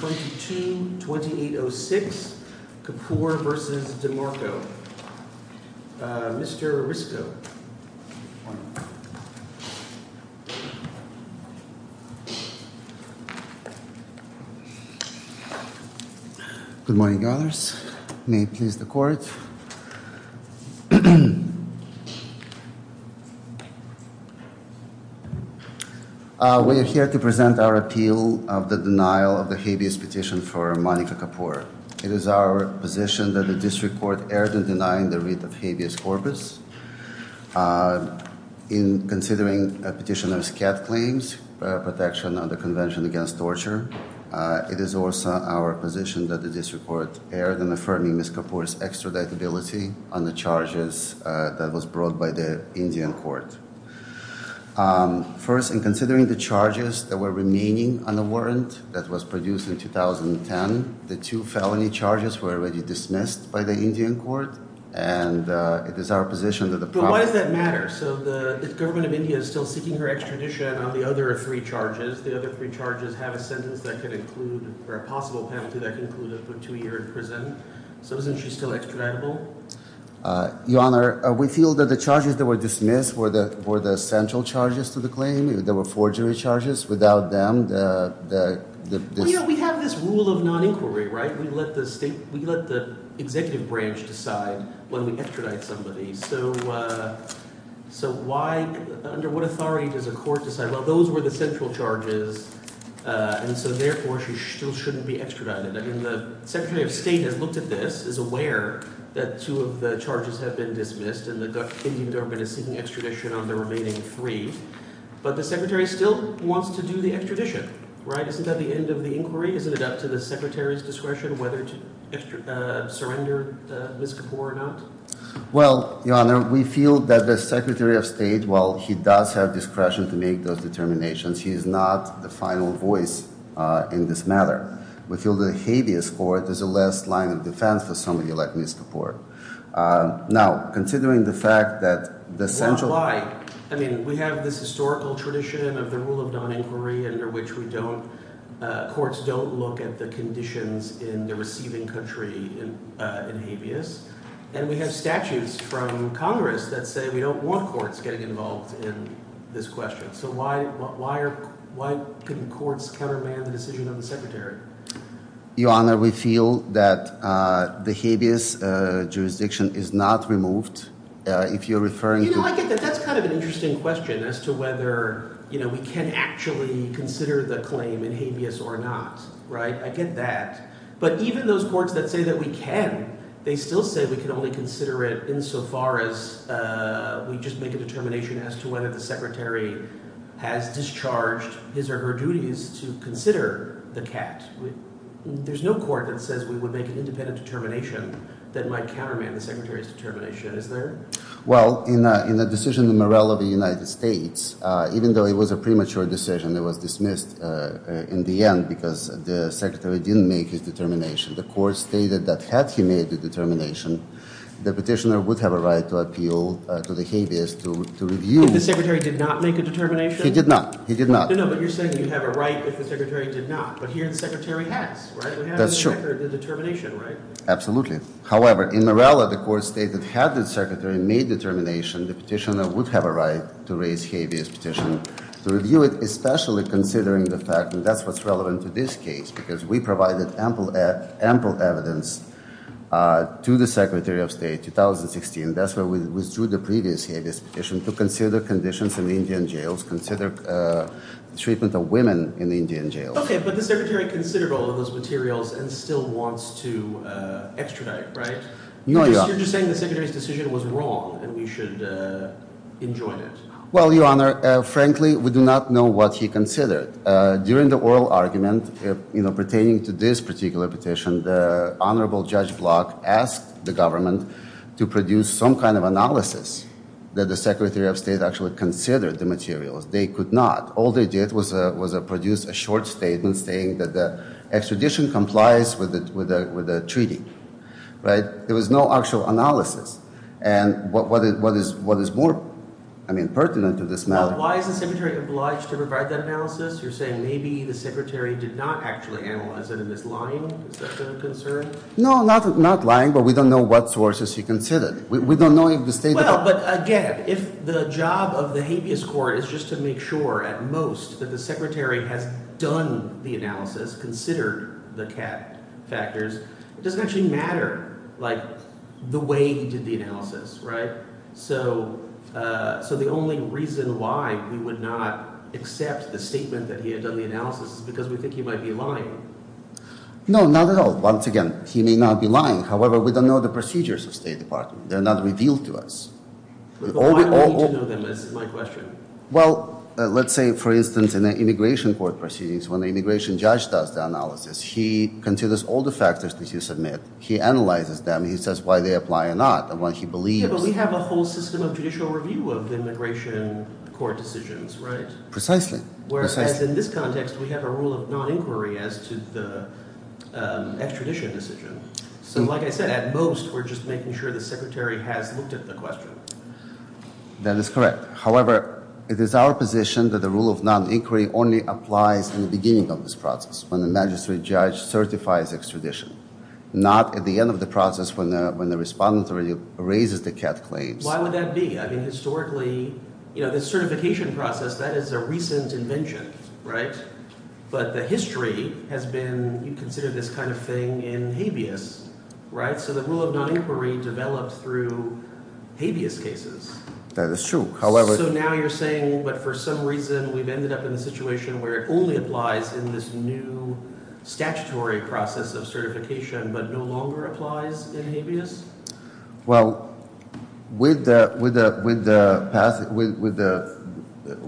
22-2806, Kapoor v. DeMarco. Mr. Risco. Good morning, may it please the court. We are here to present our appeal of the denial of the habeas petition for Monica Kapoor. It is our position that the district court erred in denying the writ of habeas corpus. In considering a petition of SCAD claims, protection of the Convention Against Torture, it is also our position that the district court erred in affirming Ms. Kapoor's extraditability on the charges that was brought by the Indian court. First, in considering the charges that were remaining on the warrant that was produced in 2010, the two felony charges were already dismissed by the Indian court, and it is our position that the problem... But why does that matter? So the government of India is still seeking her extradition on the other three charges. The other three charges have a sentence that can include, or a possible penalty that can include a two year in prison. So isn't she still extraditable? Your Honor, we feel that the charges that were dismissed were the central charges to the claim. There were four jury charges. Without them the... Well, you know, we have this rule of non-inquiry, right? We let the state, we let the executive branch decide when we extradite somebody. So why, under what authority does a court decide, well, those were the central charges, and so therefore she still shouldn't be extradited. I mean, the Secretary of State has looked at this, is aware that two of the charges are seeking extradition on the remaining three, but the Secretary still wants to do the extradition, right? Isn't that the end of the inquiry? Isn't it up to the Secretary's discretion whether to surrender Ms. Kapoor or not? Well, Your Honor, we feel that the Secretary of State, while he does have discretion to make those determinations, he is not the final voice in this matter. We feel the habeas court is the last line of defense for somebody like Ms. Kapoor. Now, considering the fact that the central... Well, why? I mean, we have this historical tradition of the rule of non-inquiry under which we don't, courts don't look at the conditions in the receiving country in habeas, and we have statutes from Congress that say we don't want courts getting involved in this question. So why are, why couldn't courts countermand the decision of the Secretary? Your Honor, we feel that the habeas jurisdiction is not removed. If you're referring to... You know, I get that. That's kind of an interesting question as to whether, you know, we can actually consider the claim in habeas or not, right? I get that. But even those courts that say that we can, they still say we can only consider it insofar as we just make a determination as to whether the Secretary has discharged his or her duties to consider the cat. There's no court that says we would make an independent determination that might countermand the Secretary's determination, is there? Well, in the decision of the Morrell of the United States, even though it was a premature decision that was dismissed in the end because the Secretary didn't make his determination, the court stated that had he made the determination, the petitioner would have a right to appeal to the habeas to review... If the Secretary did not make a determination? He did not. He did not. No, no, but you're saying you have a right if the Secretary did not. But here the Secretary has, right? We have in the record the determination, right? Absolutely. However, in Morrella, the court stated had the Secretary made determination, the petitioner would have a right to raise habeas petition to review it, especially considering the fact that that's what's relevant to this case because we provided ample evidence to the Secretary of State, 2016, that's where we withdrew the previous habeas petition to consider conditions in the Indian jails, consider treatment of women in the Indian jails. Okay, but the Secretary considered all of those materials and still wants to extradite, right? No, Your Honor. You're just saying the Secretary's decision was wrong and we should enjoin it. Well, Your Honor, frankly we do not know what he considered. During the oral argument pertaining to this particular petition, the Honorable Judge Block asked the government to produce some kind of analysis that the Secretary of State actually considered the materials. They could not. All they did was produce a short statement saying that the extradition complies with the treaty, right? There was no actual analysis. And what is more, I mean, pertinent to this matter- Well, why is the Secretary obliged to provide that analysis? You're saying maybe the Secretary did not actually analyze it and is lying? Is that a concern? No, not lying, but we don't know what sources he considered. We don't know if the State- Well, but again, if the job of the habeas court is just to make sure at most that the Secretary has done the analysis, considered the CAT factors, it doesn't actually matter like the way he did the analysis, right? So the only reason why we would not accept the analysis is because we think he might be lying. No, not at all. Once again, he may not be lying. However, we don't know the procedures of State Department. They're not revealed to us. But why do we need to know them is my question. Well, let's say, for instance, in the immigration court proceedings, when the immigration judge does the analysis, he considers all the factors that you submit. He analyzes them. He says why they apply or not and why he believes- Yeah, but we have a whole system of judicial review of immigration court decisions, right? Precisely. Whereas in this context, we have a rule of non-inquiry as to the extradition decision. So like I said, at most, we're just making sure the Secretary has looked at the question. That is correct. However, it is our position that the rule of non-inquiry only applies in the beginning of this process when the magistrate judge certifies extradition, not at the end of the process when the respondent already raises the CAT claims. Why would that be? I mean, historically, the certification process, that is a recent invention, right? But the history has been, you consider this kind of thing in habeas, right? So the rule of non-inquiry developed through habeas cases. That is true. However- So now you're saying, but for some reason, we've ended up in a situation where it only applies in this new statutory process of certification, but no longer applies in habeas? Well, when the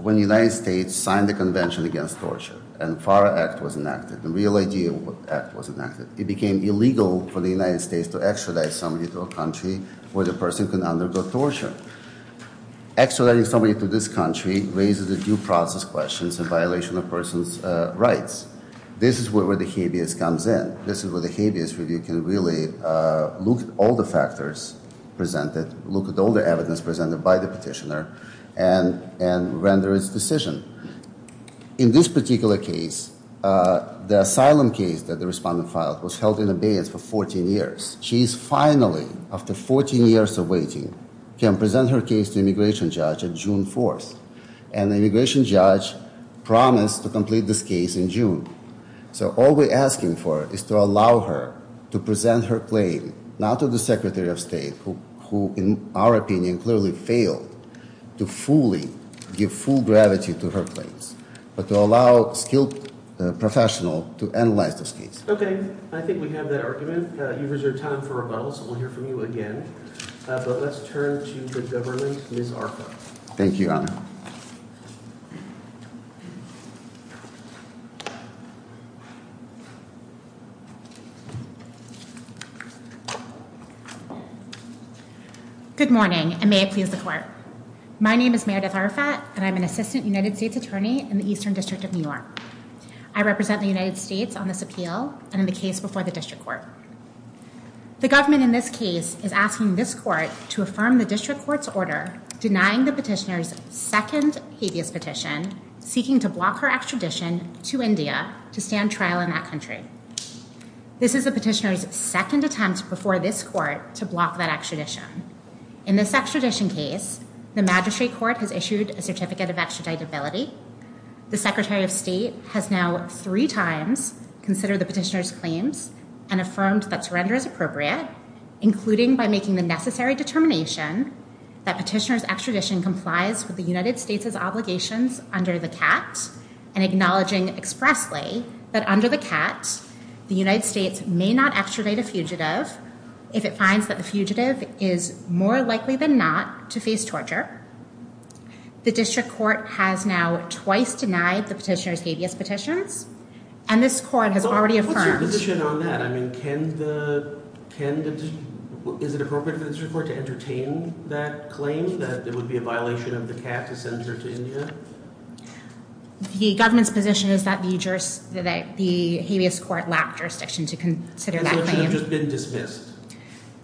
United States signed the Convention Against Torture and FARA Act was enacted, the Real Idea Act was enacted, it became illegal for the United States to extradite somebody to a country where the person can undergo torture. Extraditing somebody to this country raises the due process questions and violation of a person's rights. This is where the habeas comes in. This is where the habeas review can really look at all the factors presented, look at all the evidence presented by the petitioner, and render its decision. In this particular case, the asylum case that the respondent filed was held in abeyance for 14 years. She is finally, after 14 years of waiting, can present her case to immigration judge on June 4th. And the immigration judge promised to complete this case in June. So all we're asking for is to allow her to present her claim, not to the Secretary of State, who, in our opinion, clearly failed to fully give full gravity to her claims, but to allow a skilled professional to analyze this case. Okay. I think we have that argument. You've reserved time for rebuttal, so we'll hear from you again. But let's turn to the Governor, Ms. Arco. Thank you, Your Honor. Good morning, and may it please the Court. My name is Meredith Arafat, and I'm an Assistant United States Attorney in the Eastern District of New York. I represent the United States on this appeal and in the case before the District Court. The government in this case is asking this Court to affirm the District Court's order denying the petitioner's second habeas petition, seeking to block her extradition to India to stand trial in that country. This is the petitioner's second attempt before this Court to block that extradition. In this extradition case, the Magistrate Court has issued a certificate of extraditability. The Secretary of State has now three times considered the petitioner's claims and affirmed that surrender is appropriate, including by making the necessary determination that petitioner's extradition complies with the United States's obligations under the that under the CAT, the United States may not extradite a fugitive if it finds that the fugitive is more likely than not to face torture. The District Court has now twice denied the petitioner's habeas petitions, and this Court has already affirmed. What's your position on that? I mean, is it appropriate for the District Court to entertain that claim, that it would be a violation of the CAT to send her to India? The government's position is that the habeas court lacked jurisdiction to consider that claim. So it should have just been dismissed?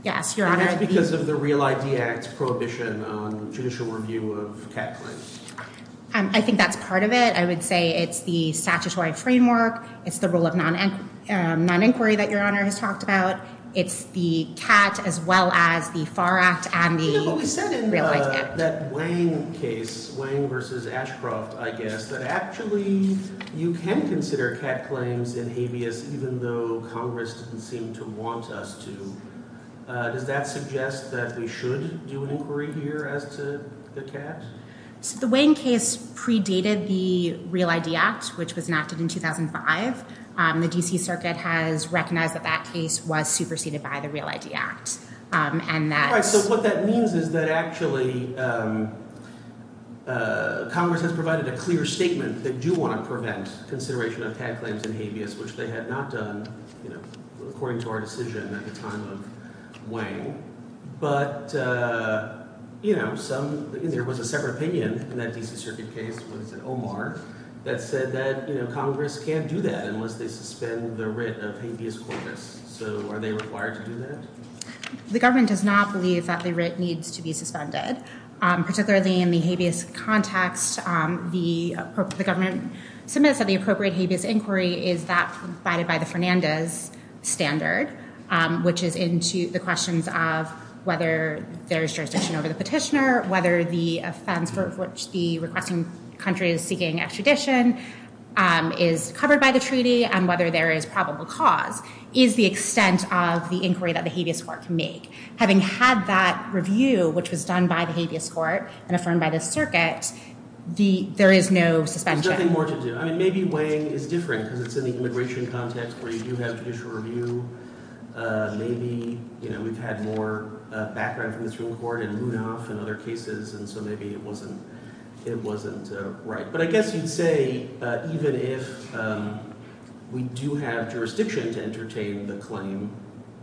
Yes, Your Honor. And that's because of the Real ID Act's prohibition on judicial review of CAT claims? I think that's part of it. I would say it's the statutory framework, it's the rule of non-inquiry that Your Honor has talked about, it's the CAT as well as the FAR Act and the What we said in that Wang case, Wang versus Ashcroft, I guess, that actually you can consider CAT claims in habeas even though Congress didn't seem to want us to. Does that suggest that we should do an inquiry here as to the CAT? The Wang case predated the Real ID Act, which was enacted in 2005. The D.C. Circuit has recognized that that case was superseded by the Real ID Act. All right, so what that means is that actually Congress has provided a clear statement that they do want to prevent consideration of CAT claims in habeas, which they had not done according to our decision at the time of Wang. But there was a separate opinion in that D.C. Circuit case, what is it, Omar, that said that Congress can't do that unless they suspend the writ of habeas corpus. So are they required to do that? The government does not believe that the writ needs to be suspended. Particularly in the habeas context, the government submits that the appropriate habeas inquiry is that provided by the Fernandez standard, which is into the questions of whether there is jurisdiction over the petitioner, whether the offense for which the requesting country is seeking extradition is covered by the treaty, and whether there is the extent of the inquiry that the habeas court can make. Having had that review, which was done by the habeas court and affirmed by the circuit, there is no suspension. There's nothing more to do. I mean, maybe Wang is different, because it's in the immigration context, where you do have judicial review. Maybe, you know, we've had more background from the Supreme Court and Rudolph and other cases, and so maybe it wasn't right. But I guess you'd say even if we do have jurisdiction to entertain the claim,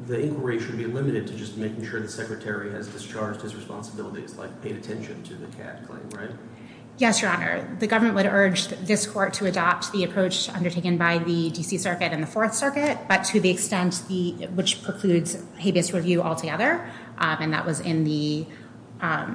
the inquiry should be limited to just making sure the secretary has discharged his responsibilities, like paid attention to the CAD claim, right? Yes, Your Honor. The government would urge this court to adopt the approach undertaken by the D.C. Circuit and the Fourth Circuit, but to the extent which precludes habeas review altogether, and that was in the, but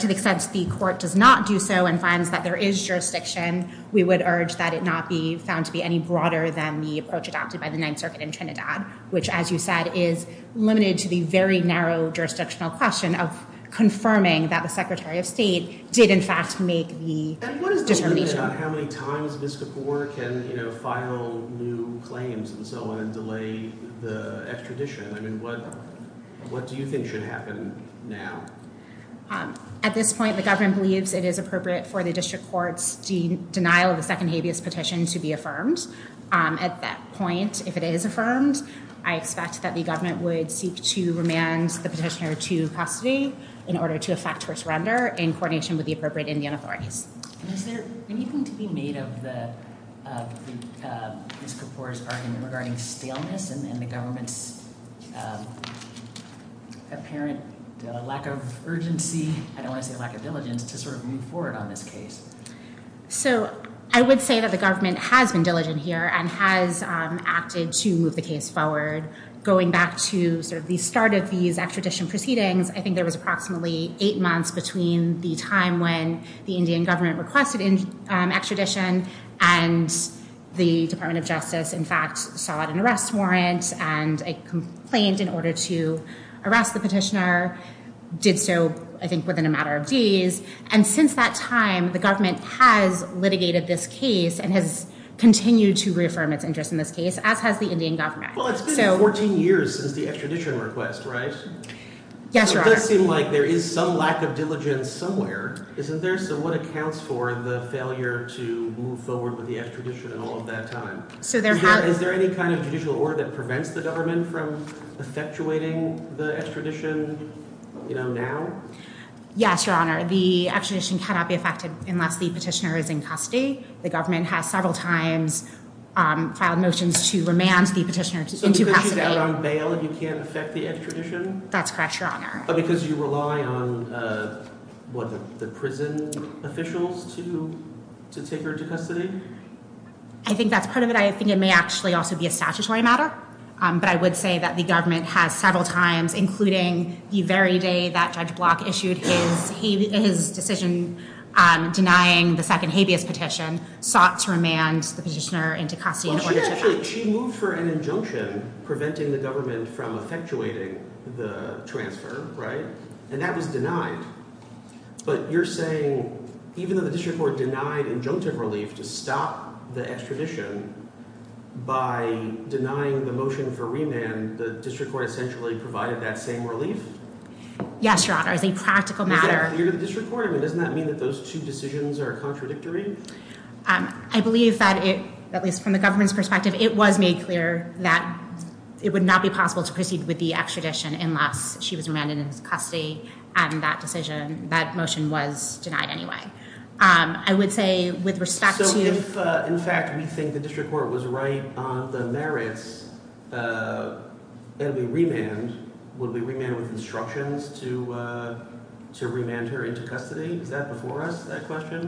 to the extent the court does not do so and finds that there is jurisdiction, we would urge that it not be found to be any broader than the approach adopted by the Ninth Circuit in Trinidad, which, as you said, is limited to the very narrow jurisdictional question of confirming that the Secretary of State did, in fact, make the determination. What is the limit on how many times this court can, you know, file new claims and so on and delay the extradition? I mean, what do you think should happen now? At this point, the government believes it is appropriate for the district court's denial of the second habeas petition to be affirmed. At that point, if it is affirmed, I expect that the government would seek to remand the petitioner to custody in order to effect her surrender in coordination with the appropriate Indian authorities. And is there anything to be made of Ms. Kapoor's argument regarding staleness and the government's apparent lack of urgency, I don't want to say lack of diligence, to sort of move forward on this case? So, I would say that the government has been diligent here and has acted to move the case forward. Going back to sort of the start of these extradition proceedings, I think there was approximately eight months between the time when the Indian government requested extradition and the Department of Justice, in fact, sought an arrest warrant and a complaint in order to arrest the petitioner, did so, I think, within a matter of days. And since that time, the government has litigated this case and has continued to reaffirm its interest in this case, as has the Indian government. Well, it's been 14 years since the extradition request, right? Yes, Your Honor. It does seem like there is some lack of diligence somewhere, isn't there? So, what accounts for the failure to move forward with the extradition and all of that time? Is there any kind of judicial order that prevents the government from effectuating the extradition now? Yes, Your Honor. The extradition cannot be effected unless the petitioner is in custody. The government has several times filed motions to remand the petitioner into custody. So, the petitioner is out on bail and you can't effect the extradition? That's correct, Your Honor. Because you rely on, what, the prison officials to take her to custody? I think that's part of it. I think it may actually also be a statutory matter. But I would say that the government has several times, including the very day that Judge Block issued his decision denying the second habeas petition, sought to remand the petitioner into custody in order to- Well, she moved for an injunction preventing the government from effectuating the transfer, right? And that was denied. But you're saying even though the district court denied injunctive relief to stop the extradition by denying the motion for remand, the district court essentially provided that same relief? Yes, Your Honor. As a practical matter- Is that clear to the district court? I mean, doesn't that mean that those two decisions are contradictory? I believe that it, at least from the government's perspective, it was made clear that it would not be possible to proceed with the extradition unless she was remanded in custody and that decision, that motion was denied anyway. I would say with respect to- So if, in fact, we think the district court was right on the merits and we remand, would we remand with instructions to remand her into custody? Is that before us, that question?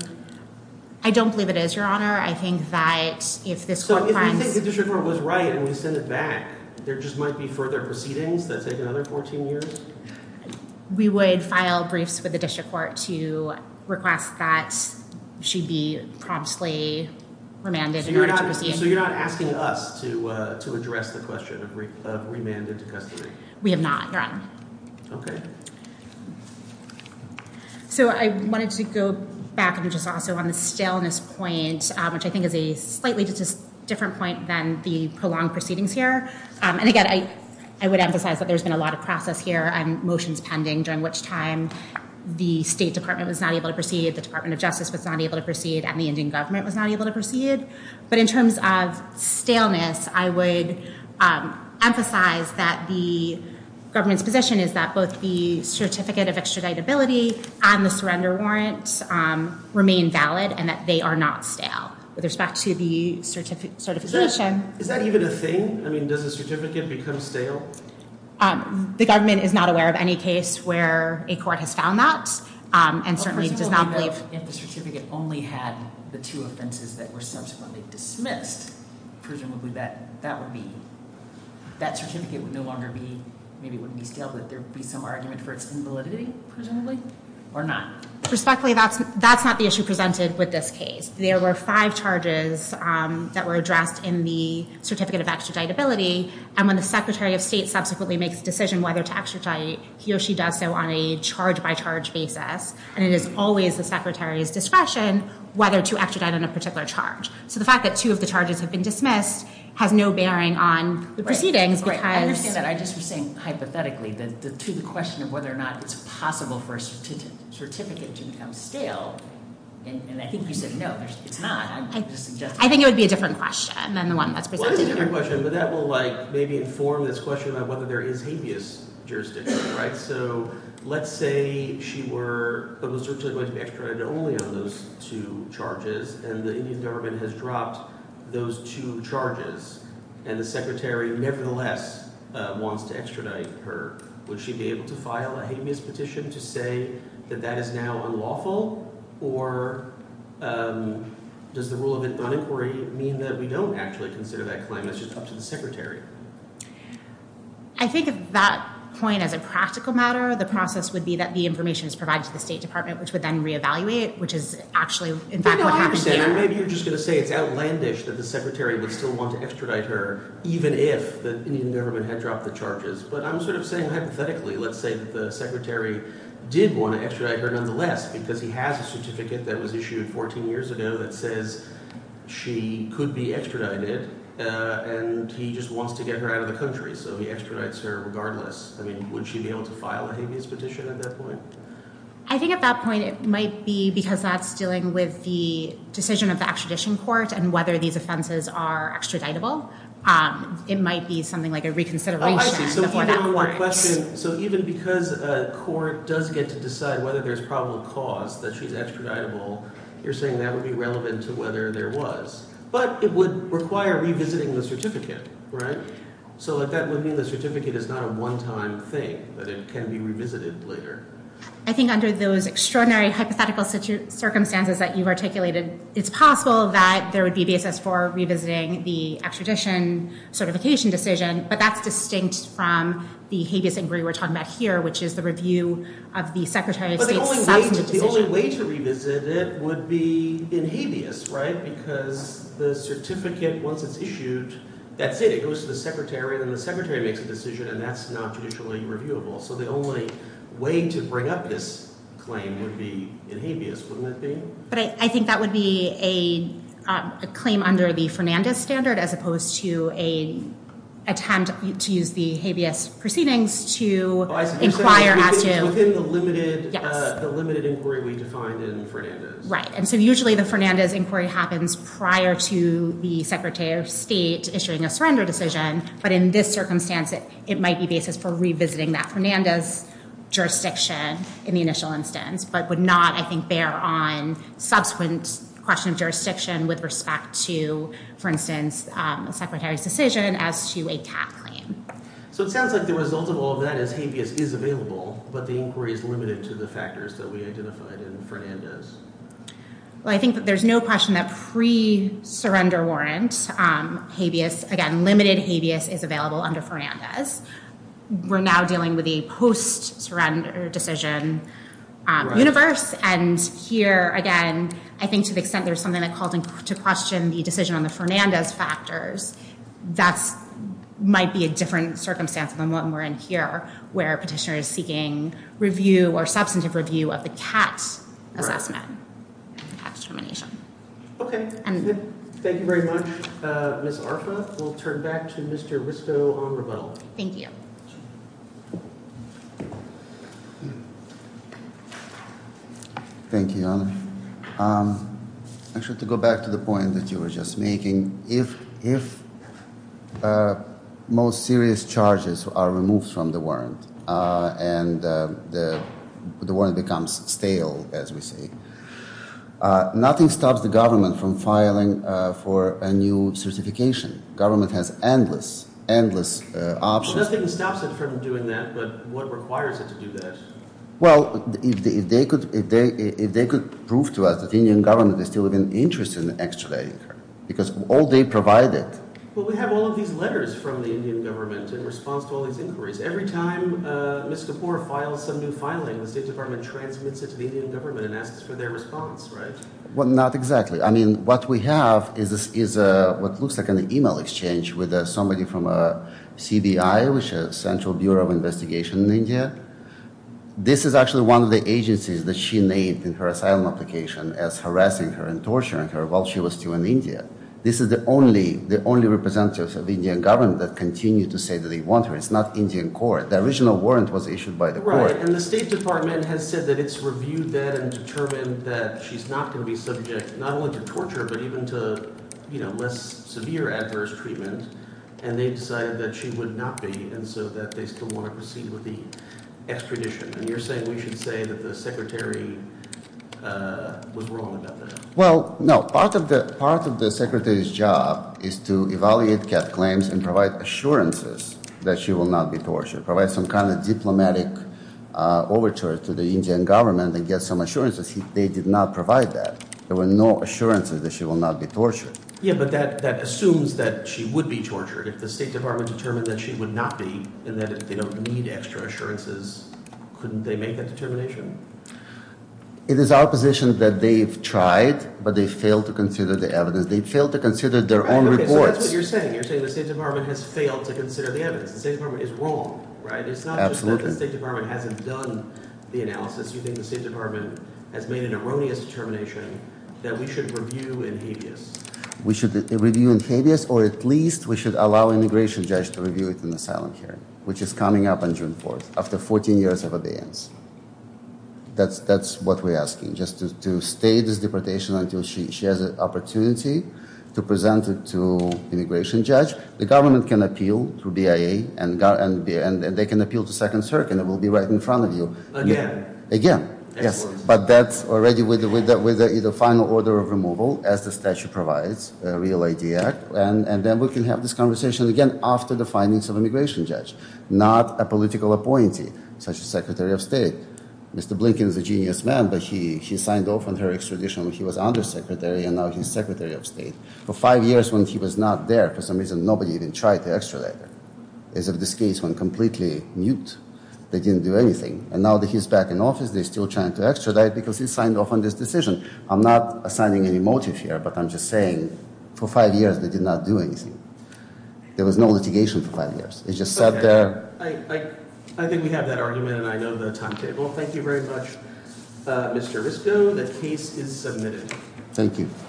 I don't believe it is, Your Honor. I think that if this- So if we think the district court was right and we send it back, there just might be further proceedings that take another 14 years? We would file briefs with the district court to request that she be promptly remanded in order to proceed. So you're not asking us to address the question of remand into custody? We have not, Your Honor. Okay. So I wanted to go back and just also on the staleness point, which I think is a slightly different point than the prolonged proceedings here. And again, I would emphasize that there's been a lot of process here and motions pending during which time the State Department was not able to proceed, the Department of Justice was not able to proceed, and the Indian government was not able to proceed. But in terms of staleness, I would emphasize that the government's position is that both the certificate of extraditability and the surrender warrant remain valid and that they are not stale. With respect to the certification- Is that even a thing? I mean, does a certificate become stale? The government is not aware of any case where a court has found that and certainly does not believe- If the certificate only had the two offenses that were subsequently dismissed, presumably that would be... That certificate would no longer be... Would there be some argument for its invalidity, presumably, or not? Respectfully, that's not the issue presented with this case. There were five charges that were addressed in the certificate of extraditability and when the Secretary of State subsequently makes a decision whether to extradite, he or she does so on a charge-by-charge basis and it is always the Secretary's discretion whether to extradite on a particular charge. So the fact that two of the charges have been dismissed has no bearing on the proceedings because- Right, I understand that. I just was saying hypothetically to the question of whether or not it's possible for a certificate to become stale and I think you said no, it's not. I think it would be a different question than the one that's presented here. Well, it is a different question but that will, like, maybe inform this question about whether there is habeas jurisdiction, right? So, let's say she was originally going to be extradited only on those two charges and the Indian government has dropped those two charges and the Secretary nevertheless wants to extradite her. Would she be able to file a habeas petition to say that that is now unlawful or does the rule of inquiry mean that we don't actually consider that claim? That's just up to the Secretary. I think if you take that point as a practical matter the process would be that the information is provided to the State Department which would then re-evaluate which is actually, in fact, what happened here. Maybe you're just going to say it's outlandish that the Secretary would still want to extradite her even if the Indian government had dropped the charges but I'm sort of saying hypothetically, let's say that the Secretary did want to extradite her nonetheless because he has a certificate that was issued 14 years ago that says she could be extradited and he just wants to get her out of the country so he extradites her regardless. I mean, would she be able to file a habeas petition at that point? I think at that point it might be because that's dealing with the decision of the extradition court and whether these offenses are extraditable. It might be something like a reconsideration before that court. So even because a court does get to decide whether there's probable cause that she's extraditable, you're saying that would be relevant to whether there was but it would require revisiting the certificate, right? So that would mean the certificate is not a one-time thing, that it can be revisited later. I think under those extraordinary hypothetical circumstances that you've articulated, it's possible that there would be basis for revisiting the extradition certification decision but that's distinct from the habeas inquiry we're talking about here which is the review of the Secretary of State's subsequent decision. The only way to revisit it would be in habeas, right? Because the certificate, once it's issued that's it. It goes to the Secretary and then the Secretary makes a decision and that's not judicially reviewable. So the only way to bring up this claim would be in habeas, wouldn't it be? But I think that would be a claim under the Fernandez standard as opposed to a attempt to use the habeas proceedings to inquire as to... Within the limited inquiry we defined in Fernandez. Right. And so usually the Fernandez inquiry happens prior to the Secretary of State issuing a surrender decision but in this circumstance it might be basis for revisiting that Fernandez jurisdiction in the initial instance but would not, I think, bear on subsequent question of jurisdiction with respect to, for instance, the Secretary's decision as to a TAP claim. So it sounds like the result of all that is habeas is available but the inquiry is limited to the factors that we identified in I think that there's no question that pre surrender warrant habeas, again limited habeas, is available under Fernandez. We're now dealing with a post surrender decision universe and here again I think to the extent there's something that called to question the decision on the Fernandez factors that might be a different circumstance than what we're in here where a petitioner is seeking review or substantive review of the CAT assessment after termination. Thank you very much Ms. Arfa. We'll turn back to Mr. Risto on rebuttal. Thank you. Thank you. I should go back to the point that you were just making. If most serious charges are removed from the warrant and the warrant becomes stale as we see nothing stops the government from filing for a new certification. Government has endless, endless options. Nothing stops it from doing that but what requires it to do that? Well, if they could prove to us that the Indian government is still interested in extraditing her because all they provided the Indian government in response to all these inquiries. Every time Ms. Kapoor files some new filing, the State Department transmits it to the Indian government and asks for their response, right? Well, not exactly. I mean, what we have is what looks like an email exchange with somebody from a CBI which is Central Bureau of Investigation in India. This is actually one of the agencies that she made in her asylum application as harassing her and torturing her while she was still in India. This is the only representative of the Indian government that continue to say that they want her. It's not Right. And the State Department has said that it's reviewed that and determined that she's not going to be subject not only to torture but even to, you know, less severe adverse treatment and they've decided that she would not be and so that they still want to proceed with the extradition. And you're saying we should say that the Secretary was wrong about that? Well, no. Part of the Secretary's job is to evaluate Kat's claims and provide assurances that she will not be tortured. Provide some kind of diplomatic overture to the Indian government and get some assurances. They did not provide that. There were no assurances that she will not be tortured. Yeah, but that assumes that she would be tortured if the State Department determined that she would not be and that if they don't need extra assurances, couldn't they make that determination? It is our position that they've tried but they failed to consider the evidence. They failed to consider their own reports. So that's what you're saying. You're saying the State Department has failed to consider the evidence. The State Department is wrong, right? It's not just that the State Department hasn't done the analysis. You think the State Department has made an erroneous determination that we should review in habeas. We should review in habeas or at least we should allow an immigration judge to review it in the silent hearing, which is coming up on June 4th after 14 years of abeyance. That's what we're asking. Just to stay this deportation until she has an opportunity to present it to you through BIA and they can appeal to Second Circuit and it will be right in front of you. Again? Again. Yes. But that's already with the final order of removal as the statute provides. And then we can have this conversation again after the findings of immigration judge. Not a political appointee such as Secretary of State. Mr. Blinken is a genius man but he signed off on her extradition when he was undersecretary and now he's Secretary of State. For five years when he was not there for some reason, nobody even tried to extradite her. As of this case, when completely mute, they didn't do anything. And now that he's back in office, they're still trying to extradite because he signed off on this decision. I'm not assigning any motive here but I'm just saying, for five years they did not do anything. There was no litigation for five years. I think we have that argument and I know the timetable. Thank you very much. Mr. Risco, the case is submitted. Thank you.